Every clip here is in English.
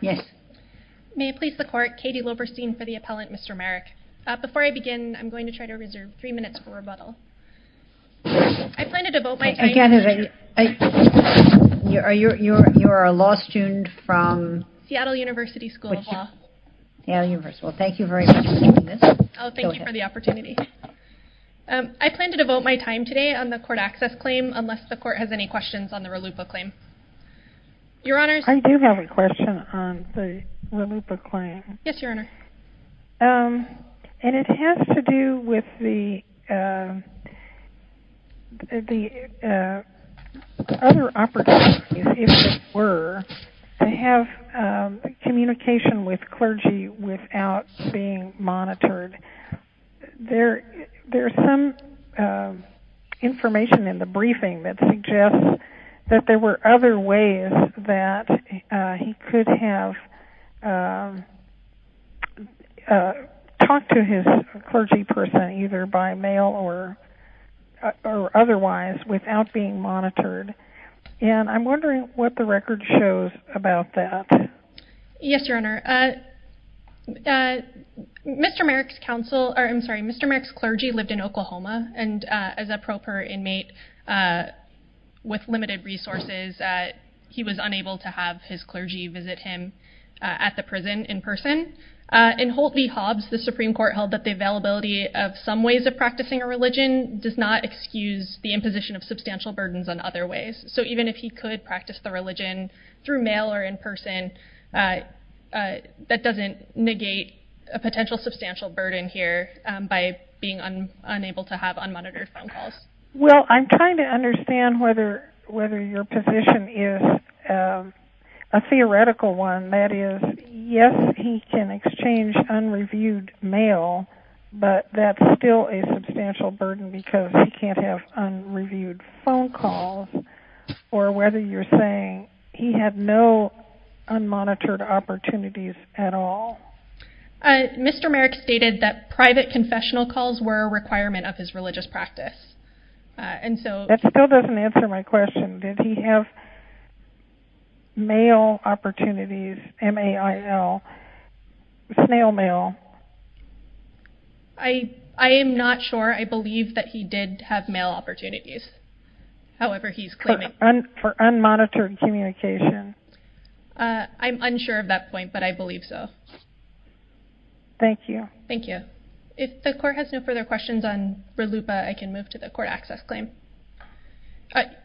Yes. May I please the court, Katie Loberstein for the appellant, Mr. Merrick. Before I begin, I'm going to try to reserve three minutes for rebuttal. I plan to devote my time... You are a law student from... Seattle University School of Law. Seattle University. Well, thank you very much for doing this. Oh, thank you for the opportunity. I plan to devote my time today on the court access claim, unless the court has any questions on the Ralupo claim. Your Honor... I do have a question on the Ralupo claim. Yes, Your Honor. And it has to do with the other opportunities, if there were, to have communication with clergy without being monitored. There's some information in the briefing that suggests that there were other ways that he could have talked to his clergy person, either by mail or otherwise, without being monitored. And I'm wondering what the record shows about that. Yes, Your Honor. Mr. Merrick's counsel... I'm sorry, Mr. Merrick's clergy lived in Oklahoma and as a proper inmate with limited resources, he was unable to have his clergy visit him at the prison in person. In Holt v. Hobbs, the Supreme Court held that the availability of some ways of practicing a religion does not excuse the imposition of substantial burdens on other ways. So even if he could practice the religion through mail or in person, that doesn't negate a potential substantial burden here by being unable to have unmonitored phone calls. Well, I'm trying to understand whether your position is a theoretical one. That is, yes, he can exchange unreviewed mail, but that's still a substantial burden because he can't have unreviewed phone calls, or whether you're saying he had no unmonitored opportunities at all. Mr. Merrick stated that private confessional calls were a requirement of his religious practice, and so... That still doesn't answer my question. Did he have mail opportunities, M-A-I-L, snail mail? I am not sure. I believe that he did have mail opportunities, however he's claiming... For unmonitored communication. I'm unsure of that point, but I believe so. Thank you. Thank you. If the court has no further questions on Ridlupa, I can move to the court access claim.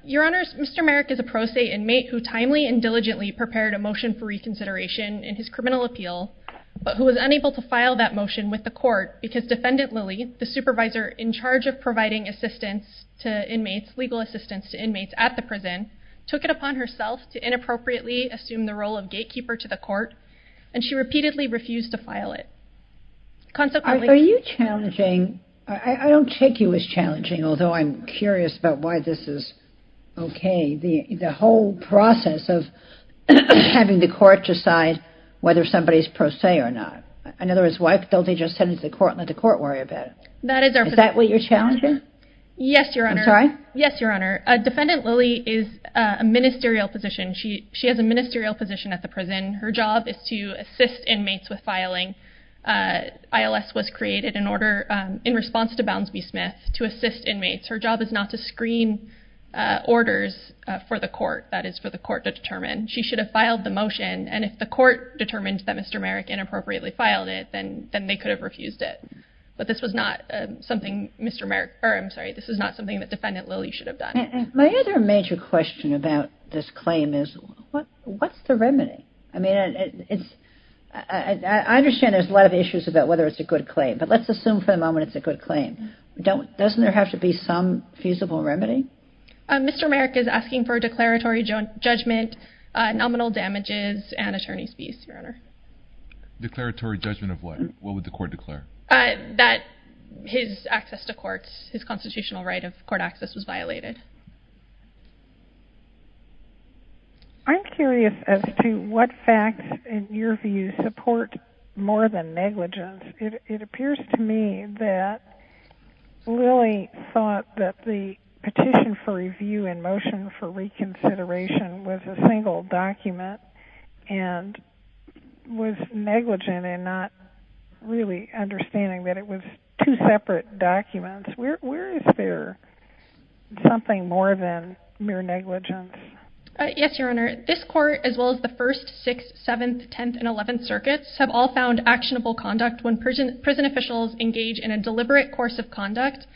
Your Honors, Mr. Merrick is a pro se inmate who timely and diligently prepared a motion for reconsideration in his criminal appeal, but who was unable to file that motion with the court because Defendant Lilly, the supervisor in charge of providing assistance to inmates, legal assistance to inmates at the prison, took it upon herself to inappropriately assume the role of gatekeeper to the court, and she repeatedly refused to file it. Are you challenging... I don't take you as challenging, although I'm curious about why this is okay. The whole process of having the court decide whether somebody's pro se or not. In other words, why don't they just send it to the court and let the court worry about it? That is our position. Is that what you're challenging? Yes, Your Honor. I'm sorry? Yes, Your Honor. Defendant Lilly is a ministerial position. She has a ministerial position at the prison. Her job is to assist inmates with filing. ILS was created in response to Bounds v. Smith to assist inmates. Her job is not to screen orders for the court, that is for the court to determine. She should have filed the motion, and if the court determined that Mr. Merrick inappropriately filed it, then they could have refused it. But this was not something Mr. Merrick... My other major question about this claim is what's the remedy? I mean, I understand there's a lot of issues about whether it's a good claim, but let's assume for the moment it's a good claim. Doesn't there have to be some feasible remedy? Mr. Merrick is asking for a declaratory judgment, nominal damages, and attorney's fees, Your Honor. Declaratory judgment of what? What would the court declare? That his access to courts, his constitutional right of court access was violated. I'm curious as to what facts, in your view, support more than negligence. It appears to me that Lilly thought that the petition for review and motion for reconsideration was a single document and was negligent in not really understanding that it was two separate documents. Where is there something more than mere negligence? Yes, Your Honor. This court, as well as the first, sixth, seventh, tenth, and eleventh circuits, have all found actionable conduct when prison officials engage in a deliberate course of conduct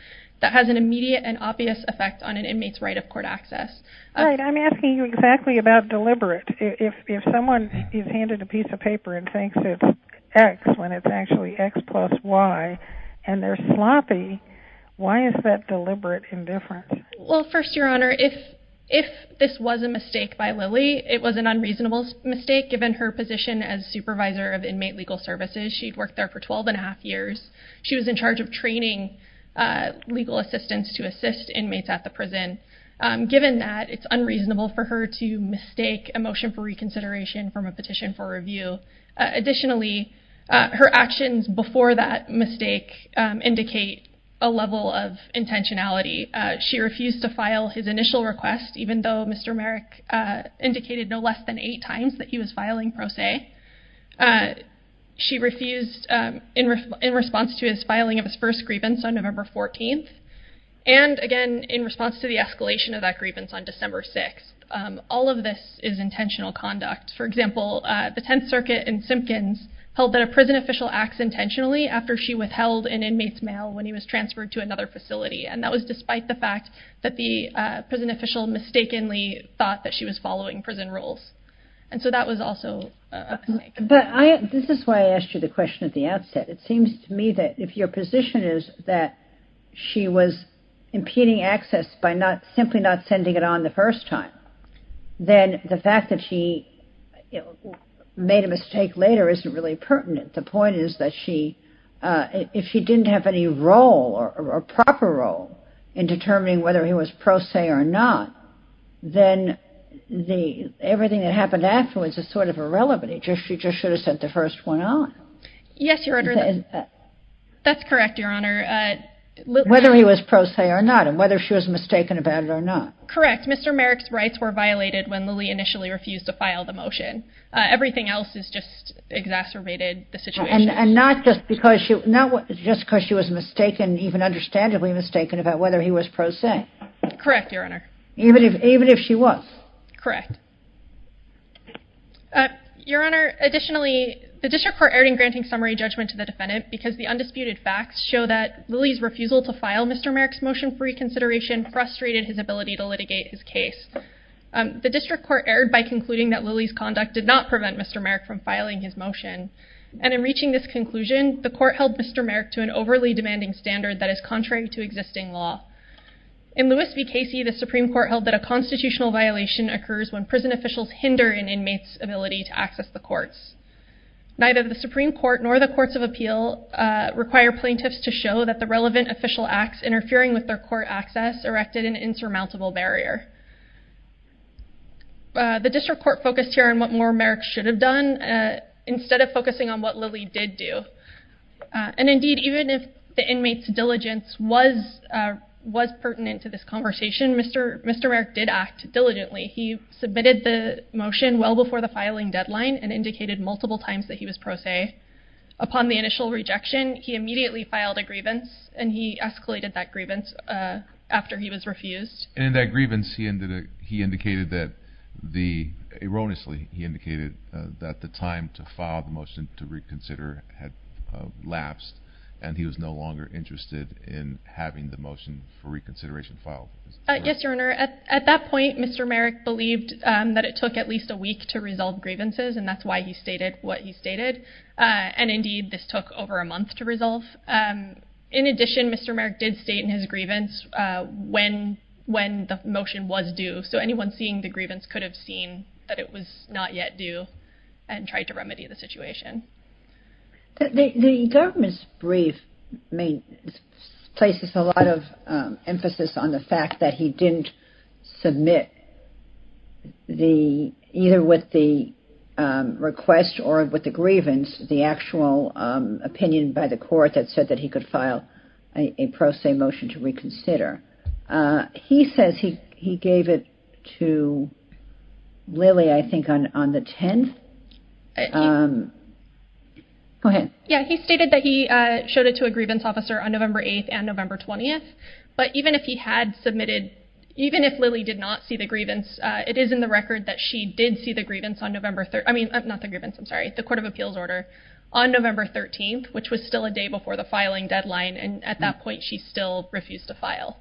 that has an immediate and obvious effect on an inmate's right of court access. All right. I'm asking you exactly about deliberate. If someone is handed a piece of paper and thinks it's X when it's actually X plus Y, and they're sloppy, why is that deliberate indifference? Well, first, Your Honor, if this was a mistake by Lilly, it was an unreasonable mistake given her position as supervisor of inmate legal services. She'd worked there for 12 and a half years. She was in charge of training legal assistants to assist inmates at the prison. Given that, it's unreasonable for her to mistake a motion for reconsideration from a petition for review. Additionally, her actions before that mistake indicate a level of intentionality. She refused to file his initial request, even though Mr. Merrick indicated no less than eight times that he was filing pro se. She refused in response to his filing of his first grievance on November 14th, and again, in response to the escalation of that grievance on December 6th. All of this is intentional conduct. For example, the Tenth Circuit in Simpkins held that a prison official acts intentionally after she withheld an inmate's mail when he was transferred to another facility, and that was despite the fact that the prison official mistakenly thought that she was following prison rules. And so that was also a mistake. But this is why I asked you the question at the outset. It seems to me that if your position is that she was impeding access by simply not sending it on the first time, then the fact that she made a mistake later isn't really pertinent. The point is that if she didn't have any role or proper role in determining whether he was pro se or not, then everything that happened afterwards is sort of irrelevant. She just should have sent the first one on. Yes, Your Honor. That's correct, Your Honor. Whether he was pro se or not, and whether she was mistaken about it or not. Correct. Mr. Merrick's rights were violated when Lilly initially refused to file the motion. Everything else has just exacerbated the situation. And not just because she was mistaken, even understandably mistaken, about whether he was pro se. Correct, Your Honor. Even if she was. Correct. Your Honor, additionally, the district court erred in granting summary judgment to the defendant because the undisputed facts show that Lilly's refusal to file Mr. Merrick's motion for reconsideration frustrated his ability to litigate his case. The district court erred by concluding that Lilly's conduct did not prevent Mr. Merrick from filing his motion. And in reaching this conclusion, the court held Mr. Merrick to an overly demanding standard that is contrary to existing law. In Lewis v. Casey, the Supreme Court held that a constitutional violation occurs when prison officials hinder an inmate's ability to access the courts. Neither the Supreme Court nor the Courts of Appeal require plaintiffs to show that the relevant official acts interfering with their court access erected an insurmountable barrier. The district court focused here on what more Merrick should have done instead of focusing on what Lilly did do. And indeed, even if the inmate's diligence was pertinent to this conversation, Mr. Merrick did act diligently. He submitted the motion well before the filing deadline and indicated multiple times that he was pro se. Upon the initial rejection, he immediately filed a grievance, and he escalated that grievance after he was refused. And in that grievance, he indicated that, erroneously, he indicated that the time to file the motion to reconsider had lapsed, and he was no longer interested in having the motion for reconsideration filed. Yes, Your Honor. At that point, Mr. Merrick believed that it took at least a week to resolve grievances, and that's why he stated what he stated. And indeed, this took over a month to resolve. In addition, Mr. Merrick did state in his grievance when the motion was due, so anyone seeing the grievance could have seen that it was not yet due and tried to remedy the situation. The government's brief places a lot of emphasis on the fact that he didn't submit either with the request or with the grievance the actual opinion by the court that said that he could file a pro se motion to reconsider. He says he gave it to Lily, I think, on the 10th. Go ahead. Yeah, he stated that he showed it to a grievance officer on November 8th and November 20th. But even if he had submitted, even if Lily did not see the grievance, it is in the record that she did see the court of appeals order on November 13th, which was still a day before the filing deadline. And at that point, she still refused to file.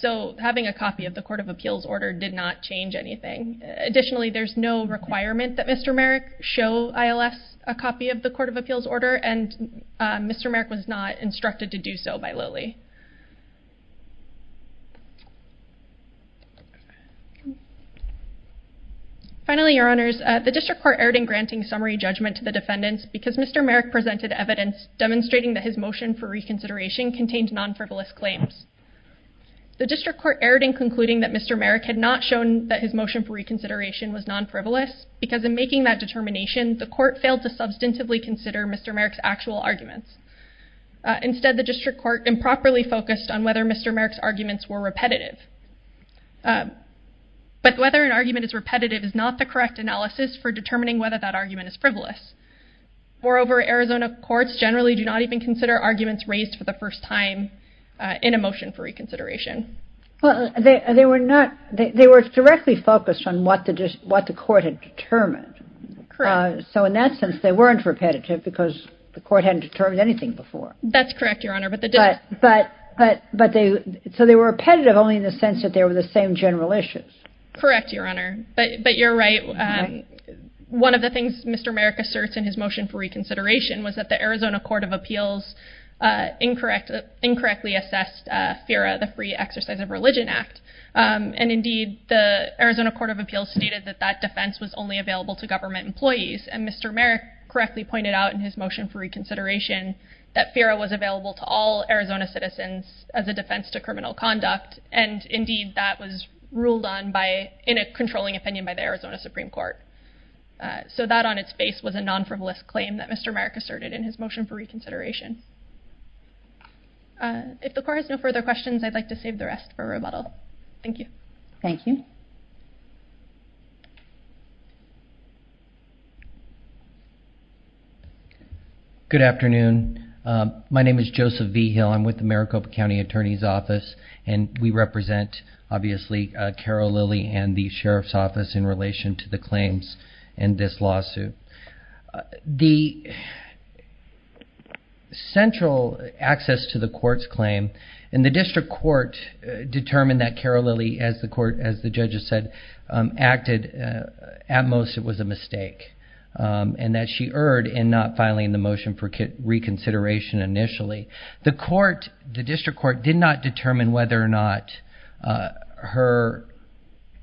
So having a copy of the court of appeals order did not change anything. Additionally, there's no requirement that Mr. Merrick show ILS a copy of the court of appeals order, and Mr. Merrick was not instructed to do so by Lily. Finally, your honors, the district court erred in granting summary judgment to the defendants because Mr. Merrick presented evidence demonstrating that his motion for reconsideration contained non-frivolous claims. The district court erred in concluding that Mr. Merrick had not shown that his motion for reconsideration was non-frivolous because in making that determination, the court failed to substantively consider Mr. Merrick's actual arguments. Instead, the district court improperly focused on whether Mr. Merrick's arguments were repetitive. But whether an argument is repetitive is not the correct analysis for determining whether that argument is frivolous. Moreover, Arizona courts generally do not even consider arguments raised for the first time in a motion for reconsideration. They were directly focused on what the court had determined. Correct. So in that sense, they weren't repetitive because the court hadn't determined anything before. That's correct, your honor, but they didn't. So they were repetitive only in the sense that they were the same general issues. Correct, your honor, but you're right. One of the things Mr. Merrick asserts in his motion for reconsideration was that the Arizona court of appeals incorrectly assessed FERA, the Free Exercise of Religion Act. And indeed, the Arizona court of appeals stated that that defense was only available to government employees. And Mr. Merrick correctly pointed out in his motion for reconsideration that FERA was available to all Arizona citizens as a defense to criminal conduct. And indeed, that was ruled on by in a controlling opinion by the Arizona Supreme Court. So that on its face was a non-frivolous claim that Mr. Merrick asserted in his motion for reconsideration. If the court has no further questions, I'd like to save the rest for rebuttal. Thank you. Thank you. Good afternoon. My name is Joseph Vigil. I'm with the Maricopa County Attorney's Office. And we represent, obviously, Carol Lilly and the Sheriff's Office in relation to the claims in this lawsuit. The central access to the court's claim in the district court determined that Carol Lilly, as the court, as the judges said, acted at most it was a mistake. And that she erred in not filing the motion for reconsideration initially. The court, the district court, did not determine whether or not her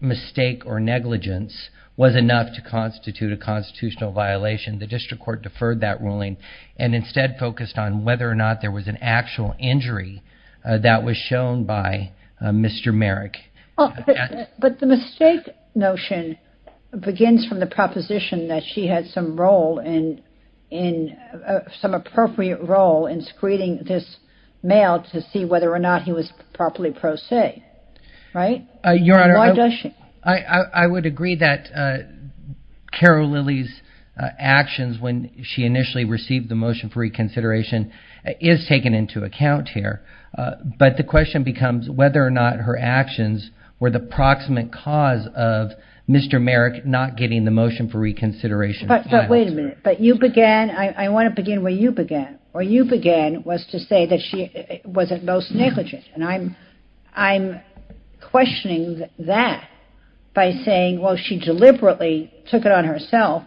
mistake or negligence was enough to constitute a constitutional violation. The district court deferred that ruling and instead focused on whether or not there was an actual injury that was shown by Mr. Merrick. But the mistake notion begins from the proposition that she had some role in, some appropriate role in screening the defendant. And that she was using this male to see whether or not he was properly pro se. Right? Your Honor. Why does she? I would agree that Carol Lilly's actions when she initially received the motion for reconsideration is taken into account here. But the question becomes whether or not her actions were the proximate cause of Mr. Merrick not getting the motion for reconsideration. But wait a minute. But you began, I want to begin where you began. Where you began was to say that she was at most negligent. And I'm questioning that by saying, well, she deliberately took it on herself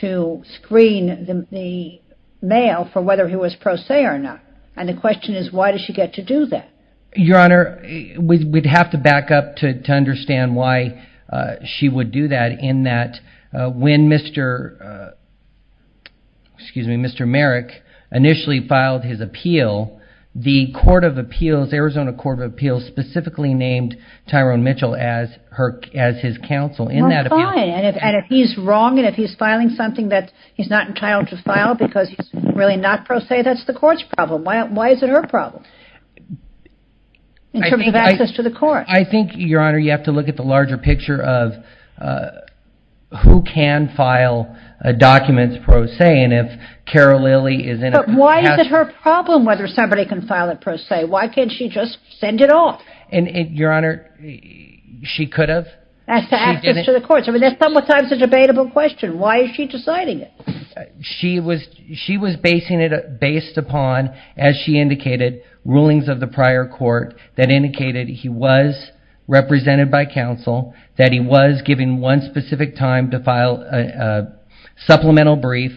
to screen the male for whether he was pro se or not. And the question is why does she get to do that? Your Honor, we'd have to back up to understand why she would do that in that when Mr., excuse me, Mr. Merrick initially filed his appeal, the court of appeals, Arizona Court of Appeals specifically named Tyrone Mitchell as his counsel in that appeal. Well, fine. And if he's wrong and if he's filing something that he's not entitled to file because he's really not pro se, that's the court's problem. Why is it her problem? In terms of access to the court. I think, Your Honor, you have to look at the larger picture of who can file a document pro se and if Carol Lilly is in it. But why is it her problem whether somebody can file it pro se? Why can't she just send it off? And, Your Honor, she could have. As to access to the courts. I mean, that's sometimes a debatable question. Why is she deciding it? She was basing it based upon, as she indicated, rulings of the prior court that indicated he was represented by counsel, that he was given one specific time to file a supplemental brief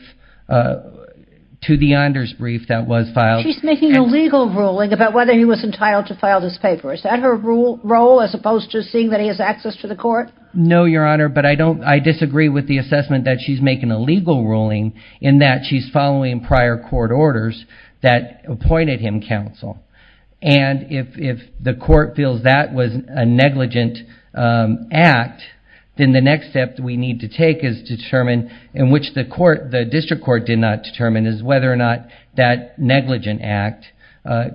to the honors brief that was filed. She's making a legal ruling about whether he was entitled to file this paper. Is that her role as opposed to seeing that he has access to the court? No, Your Honor, but I disagree with the assessment that she's making a legal ruling in that she's following prior court orders that appointed him counsel. And if the court feels that was a negligent act, then the next step that we need to take is determine, in which the district court did not determine, is whether or not that negligent act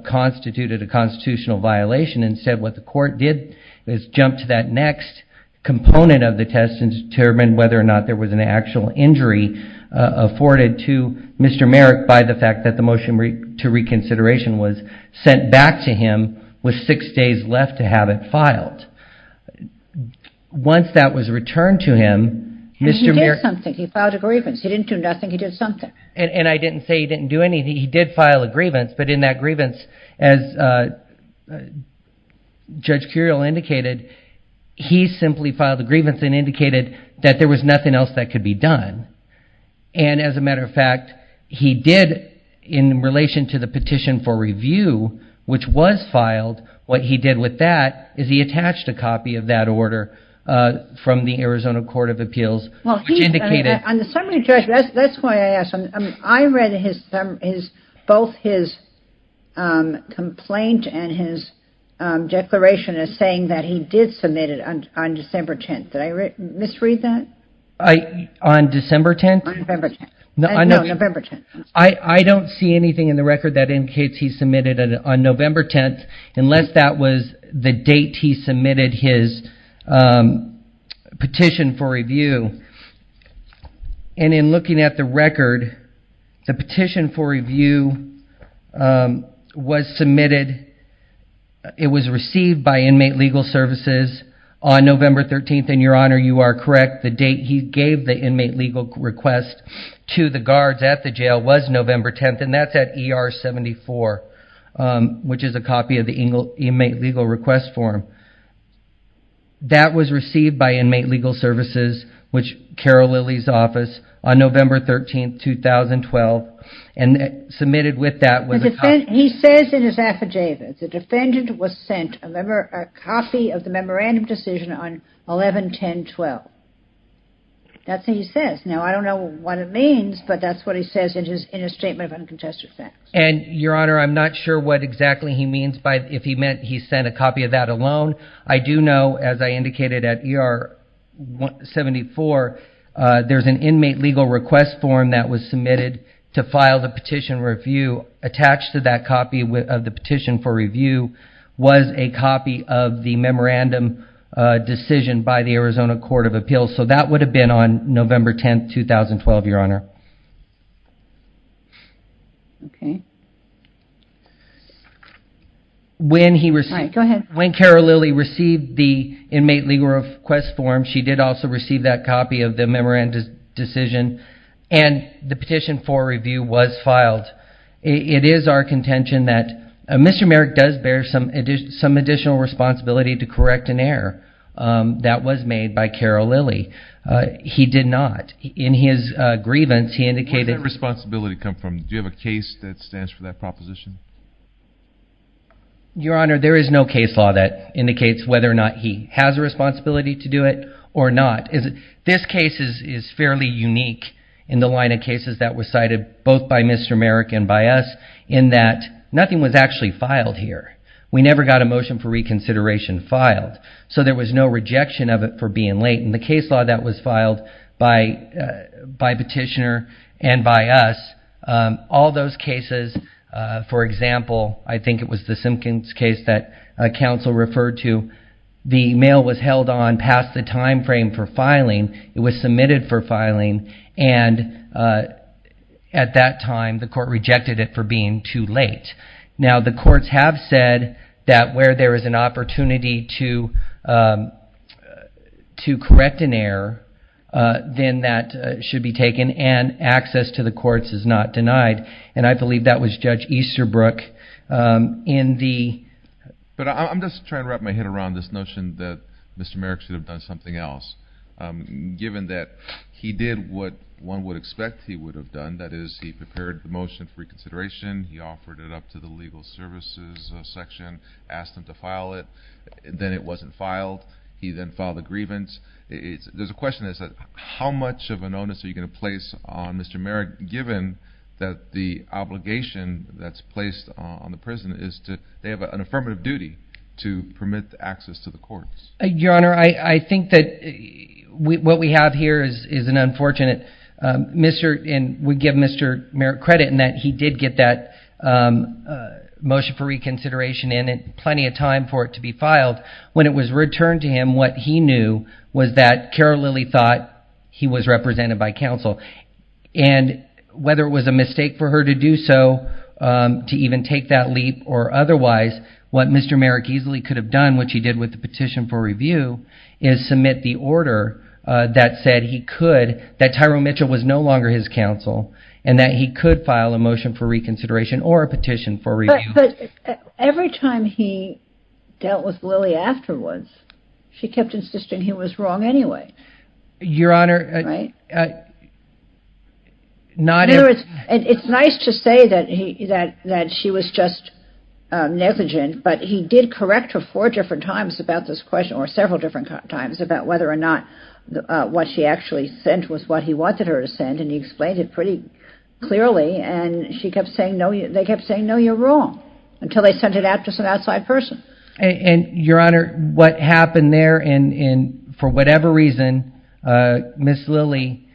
constituted a constitutional violation. Instead, what the court did is jump to that next component of the test and determine whether or not there was an actual injury afforded to Mr. Merrick by the fact that the motion to reconsideration was sent back to him with six days left to have it filed. Once that was returned to him, Mr. Merrick... He did something. He filed a grievance. He didn't do nothing. He did something. And I didn't say he didn't do anything. He did file a grievance, but in that grievance, as Judge Curiel indicated, he simply filed a grievance and indicated that there was nothing else that could be done. And as a matter of fact, he did, in relation to the petition for review, which was filed, what he did with that is he attached a copy of that order from the Arizona Court of Appeals, which indicated... I read both his complaint and his declaration as saying that he did submit it on December 10th. Did I misread that? On December 10th? On November 10th. No, November 10th. I don't see anything in the record that indicates he submitted it on November 10th unless that was the date he submitted his petition for review. And in looking at the record, the petition for review was submitted... It was received by Inmate Legal Services on November 13th, and, Your Honor, you are correct. The date he gave the Inmate Legal Request to the guards at the jail was November 10th, and that's at ER 74, which is a copy of the Inmate Legal Request form. That was received by Inmate Legal Services, Carol Lilly's office, on November 13th, 2012, and submitted with that was a copy... He says in his affidavit, the defendant was sent a copy of the memorandum decision on 11-10-12. That's what he says. Now, I don't know what it means, but that's what he says in his Statement of Uncontested Facts. And, Your Honor, I'm not sure what exactly he means by if he meant he sent a copy of that alone. I do know, as I indicated at ER 74, there's an Inmate Legal Request form that was submitted to file the petition review. Attached to that copy of the petition for review was a copy of the memorandum decision by the Arizona Court of Appeals, so that would have been on November 10th, 2012, Your Honor. When Carol Lilly received the Inmate Legal Request form, she did also receive that copy of the memorandum decision, and the petition for review was filed. It is our contention that Mr. Merrick does bear some additional responsibility to correct an error that was made by Carol Lilly. He did not. In his grievance, he indicated... Where did that responsibility come from? Do you have a case that stands for that proposition? Your Honor, there is no case law that indicates whether or not he has a responsibility to do it or not. This case is fairly unique in the line of cases that were cited, both by Mr. Merrick and by us, in that nothing was actually filed here. We never got a motion for reconsideration filed, so there was no rejection of it for being late. In the case law that was filed by Petitioner and by us, all those cases... For example, I think it was the Simpkins case that counsel referred to, the mail was held on past the time frame for filing. It was submitted for filing, and at that time, the court rejected it for being too late. Now, the courts have said that where there is an opportunity to correct an error that was made by Mr. Merrick, then that should be taken, and access to the courts is not denied. And I believe that was Judge Easterbrook in the... But I'm just trying to wrap my head around this notion that Mr. Merrick should have done something else. Given that he did what one would expect he would have done, that is, he prepared the motion for reconsideration, he offered it up to the legal services section, asked them to file it, then it wasn't filed. He then filed a grievance. There's a question as to how much of an onus are you going to place on Mr. Merrick, given that the obligation that's placed on the prison is to... They have an affirmative duty to permit access to the courts. Your Honor, I think that what we have here is an unfortunate... And we give Mr. Merrick credit in that he did get that motion for reconsideration in, and he spent plenty of time for it to be filed. When it was returned to him, what he knew was that Carol Lillie thought he was represented by counsel. And whether it was a mistake for her to do so, to even take that leap, or otherwise, what Mr. Merrick easily could have done, which he did with the petition for review, is submit the order that said he could, that Tyrone Mitchell was no longer his counsel, and that he could file a motion for reconsideration or a petition for review. But every time he dealt with Lillie afterwards, she kept insisting he was wrong anyway. Your Honor... It's nice to say that she was just negligent, but he did correct her four different times about this question, or several different times, about whether or not what she actually sent was what he wanted her to send, and he explained it pretty clearly. And they kept saying, no, you're wrong, until they sent it out to some outside person. And, Your Honor, what happened there, and for whatever reason, Ms. Lillie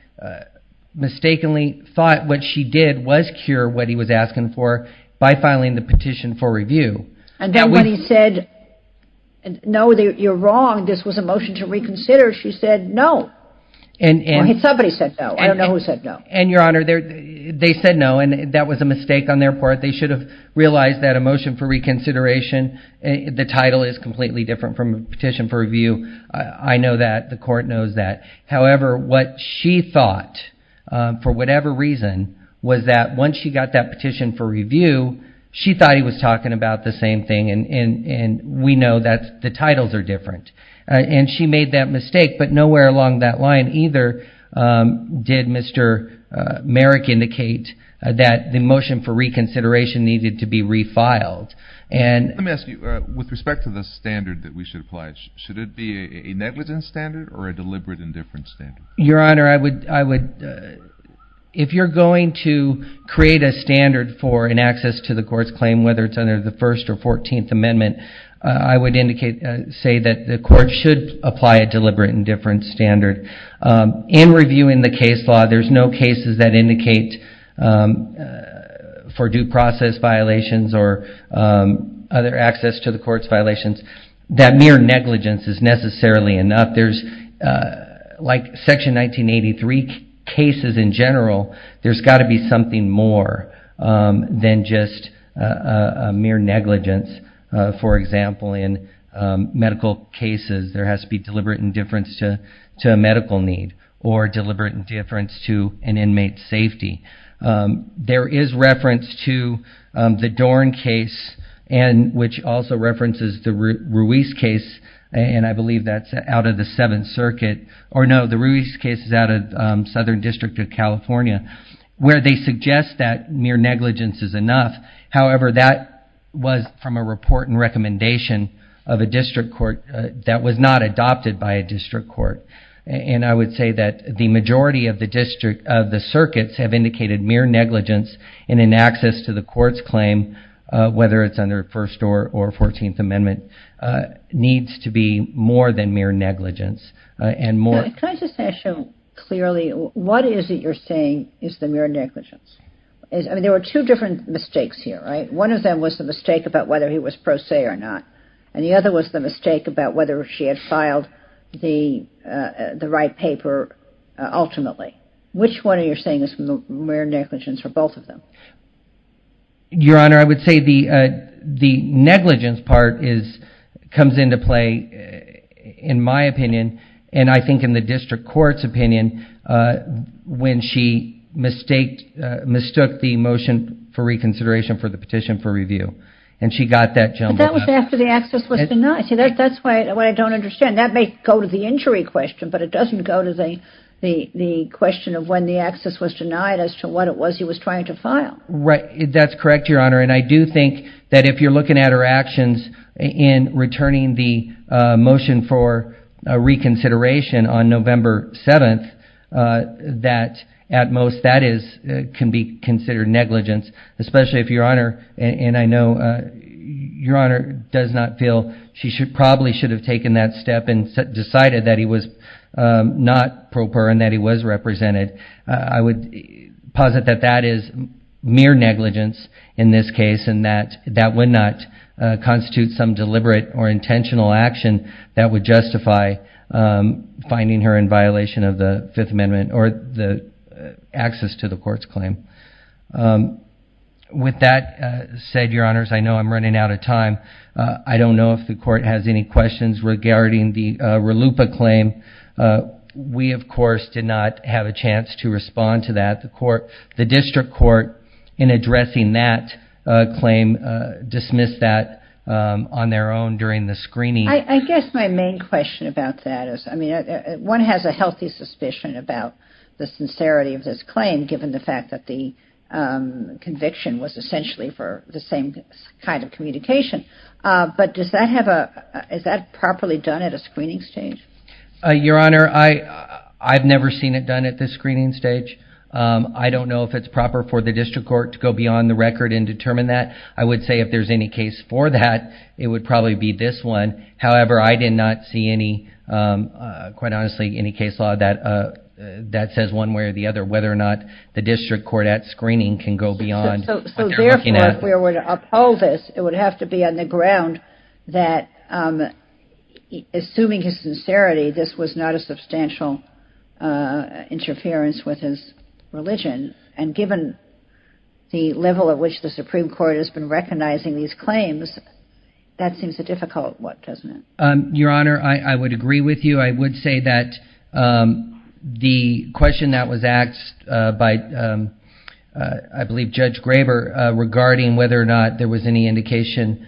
mistakenly thought what she did was cure what he was asking for by filing the petition for review. And then when he said, no, you're wrong, this was a motion to reconsider, she said no. Somebody said no. I don't know who said no. And, Your Honor, they said no, and that was a mistake on their part. They should have realized that a motion for reconsideration, the title is completely different from a petition for review. I know that. The Court knows that. However, what she thought, for whatever reason, was that once she got that petition for review, she thought he was talking about the same thing, and we know that the titles are different. And she made that mistake, but nowhere along that line either did Mr. Merrick indicate that the motion for reconsideration needed to be refiled. Let me ask you, with respect to the standard that we should apply, should it be a negligence standard or a deliberate indifference standard? Your Honor, if you're going to create a standard for an access to the Court's claim, whether it's under the First or Fourteenth Amendment, I would say that the Court should apply a deliberate indifference standard. In reviewing the case law, there's no cases that indicate for due process violations or other access to the Court's violations that mere negligence is necessarily enough. Like Section 1983 cases in general, there's got to be something more than just a mere negligence. For example, in medical cases, there has to be deliberate indifference to a medical need or deliberate indifference to an inmate's safety. There is reference to the Dorn case, which also references the Ruiz case, and I believe that's out of the Seventh Circuit. Or no, the Ruiz case is out of Southern District of California, where they suggest that mere negligence is enough. However, that was from a report and recommendation of a district court that was not adopted by a district court. And I would say that the majority of the circuits have indicated mere negligence in an access to the Court's claim, whether it's under First or Fourteenth Amendment, needs to be more than mere negligence. Can I just ask you clearly, what is it you're saying is the mere negligence? I mean, there were two different mistakes here, right? One of them was the mistake about whether he was pro se or not, and the other was the mistake about whether she had filed the right paper ultimately. Which one are you saying is mere negligence for both of them? Your Honor, I would say the negligence part comes into play, in my opinion, and I think in the district court's opinion, when she mistook the motion for reconsideration for the petition for review. But that was after the access was denied. That's what I don't understand. That may go to the injury question, but it doesn't go to the question of when the access was denied as to what it was he was trying to file. That's correct, Your Honor, and I do think that if you're looking at her actions in returning the motion for reconsideration on November 7th, that at most that can be considered negligence, especially if Your Honor and I know Your Honor does not feel she probably should have taken that step and decided that he was not pro per and that he was represented. I would posit that that is mere negligence in this case and that that would not constitute some deliberate or intentional action that would justify finding her in violation of the Fifth Amendment or the access to the court's claim. With that said, Your Honors, I know I'm running out of time. I don't know if the court has any questions regarding the RLUIPA claim. We, of course, did not have a chance to respond to that. The district court in addressing that claim dismissed that on their own during the screening. I guess my main question about that is, I mean, one has a healthy suspicion about the sincerity of this claim given the fact that the conviction was essentially for the same kind of communication, but is that properly done at a screening stage? Your Honor, I've never seen it done at the screening stage. I don't know if it's proper for the district court to go beyond the record and determine that. I would say if there's any case for that it would probably be this one. However, I did not see any quite honestly any case law that says one way or the other whether or not the district court at screening can go beyond what they're looking at. So therefore, if we were to uphold this, it would have to be on the ground that assuming his sincerity, this was not a substantial interference with his religion. And given the level at which the Supreme Court has been recognizing these claims, that seems a difficult one, doesn't it? Your Honor, I would agree with you. I would say that the question that was asked by I believe Judge Graber regarding whether or not there was any indication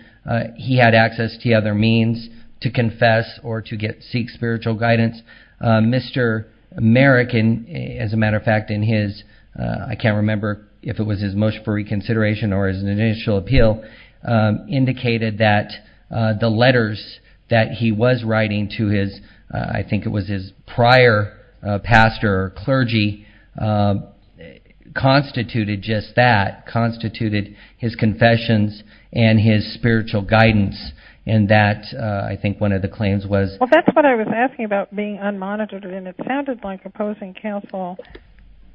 he had access to other means to confess or to seek spiritual guidance. Mr. Merrick as a matter of fact in his, I can't remember if it was his motion for reconsideration or his initial appeal, indicated that the letters that he was writing to his I think it was his prior pastor or clergy constituted just that, constituted his confessions and his spiritual guidance and that I think one of the claims was Well that's what I was asking about being unmonitored and it sounded like opposing counsel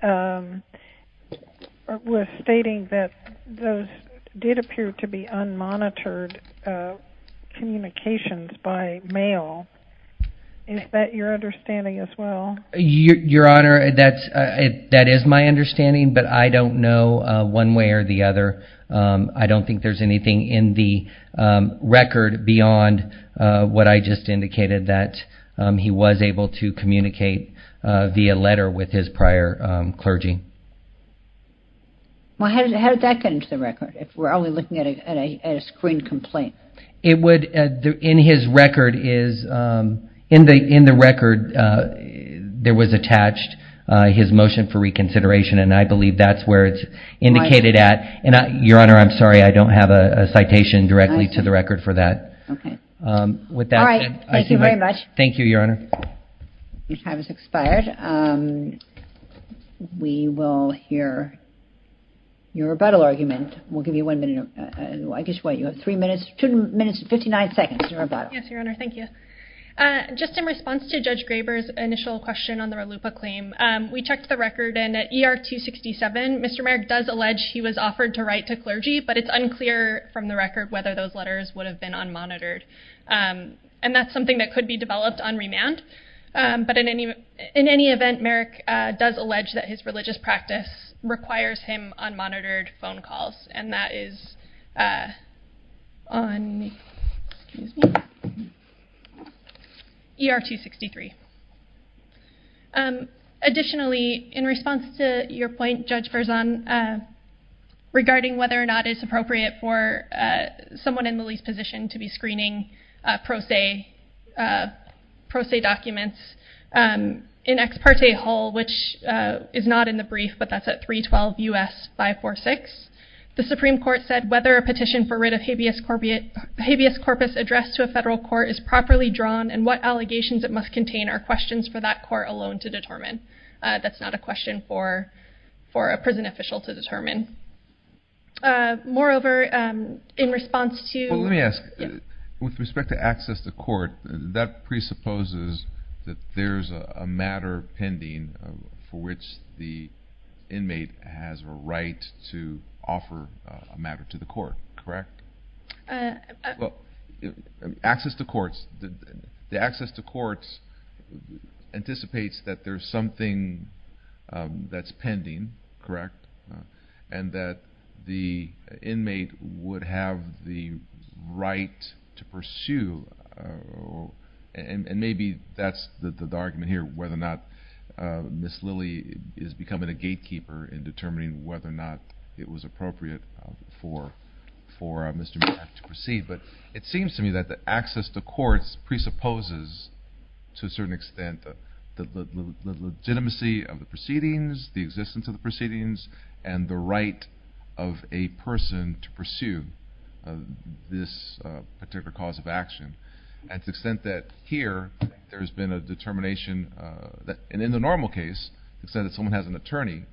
was stating that those did appear to be unmonitored communications by mail. Is that your understanding as well? Your Honor, that is my understanding but I don't know one way or the other. I don't think there's anything in the record beyond what I just indicated that he was able to communicate via letter with his prior clergy. Well how did that get into the record if we're only looking at a screened complaint? In his record is there was attached his motion for reconsideration and I believe that's where it's indicated at. Your Honor, I'm sorry I don't have a citation directly to the record for that. Thank you very much. Thank you, Your Honor. Your time has expired. We will hear your rebuttal argument. We'll give you one minute. You have 3 minutes, 2 minutes and 59 seconds to rebuttal. Just in response to Judge Graber's initial question on the Ralupa claim we checked the record and at ER 267 Mr. Merrick does allege he was offered to write to clergy but it's unclear from the record whether those letters would have been unmonitored and that's something that could be developed on remand but in any event Merrick does allege that his religious practice requires him on monitored phone calls and that is on ER 263. Additionally, in response to your point, Judge Verzon, regarding whether or not it's appropriate for someone in the least position to be screening pro se documents in ex parte hall which is not in the brief but that's at 312 US 546. The Supreme Court said whether a petition for writ of habeas corpus addressed to a federal court is properly drawn and what allegations it must contain are questions for that court alone to determine. That's not a question for a prison official to determine. Moreover, in response to Well let me ask, with respect to access to court, that presupposes that there's a matter pending for which the inmate has a right to offer a matter to the court, correct? Well, access to courts anticipates that there's something that's pending, correct? And that the inmate would have the right to pursue, and maybe that's the argument here, whether or not Ms. Lilly is becoming a gatekeeper in determining whether or not it was appropriate for Mr. Macbeth to proceed, but it seems to me that the access to courts presupposes to a certain extent the legitimacy of the proceedings, the existence of the proceedings, and the right of a person to pursue this particular cause of action to the extent that here there's been a determination and in the normal case, instead of someone has an attorney,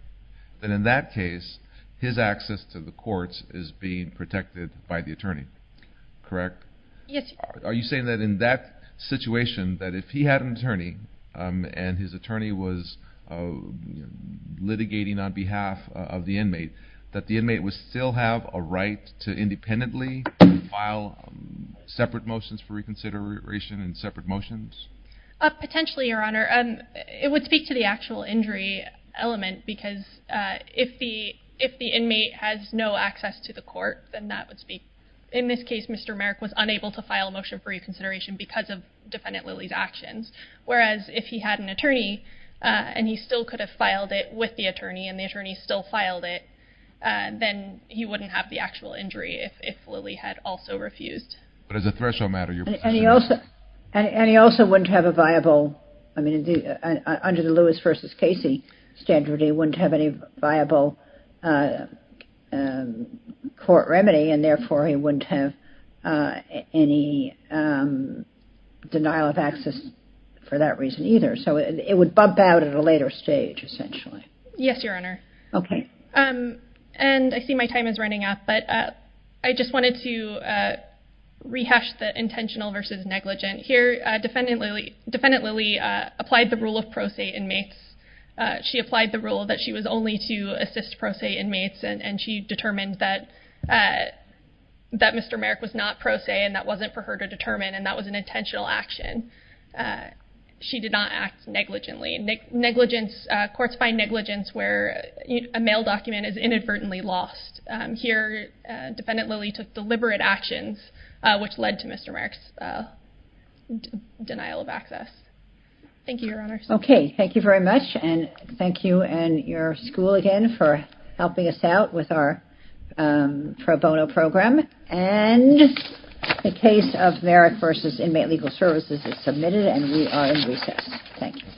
then in that case his access to the courts is being protected by the attorney. Correct? Yes. Are you saying that in that situation that if he had an attorney, and his attorney was litigating on behalf of the inmate, that the inmate would still have a right to independently file separate motions for reconsideration and separate motions? Potentially, Your Honor. It would speak to the actual injury element because if the inmate has no access to the court, then that would speak. In this case, Mr. Merrick was unable to file a motion for reconsideration because of Defendant Lilly's actions, whereas if he had an attorney, and he still could have filed it with the attorney, and the attorney still filed it, then he wouldn't have the actual injury if Lilly had also refused. But as a threshold matter, you're... And he also wouldn't have a viable, I mean, under the law, he wouldn't have any viable court remedy, and therefore he wouldn't have any denial of access for that reason either. So it would bump out at a later stage, essentially. Yes, Your Honor. Okay. And I see my time is running out, but I just wanted to rehash the intentional versus negligent. Here, Defendant Lilly applied the rule of pro se inmates. She applied the rule that she was only to assist pro se inmates, and she determined that Mr. Merrick was not pro se, and that wasn't for her to determine, and that was an intentional action. She did not act negligently. Courts find negligence where a mail document is inadvertently lost. Here, Defendant Lilly took deliberate actions which led to Mr. Merrick's denial of access. Thank you, Your Honor. Okay. Thank you very much, and thank you and your school again for helping us out with our pro bono program. And the case of Merrick v. Inmate Legal Services is submitted, and we are in recess. Thank you.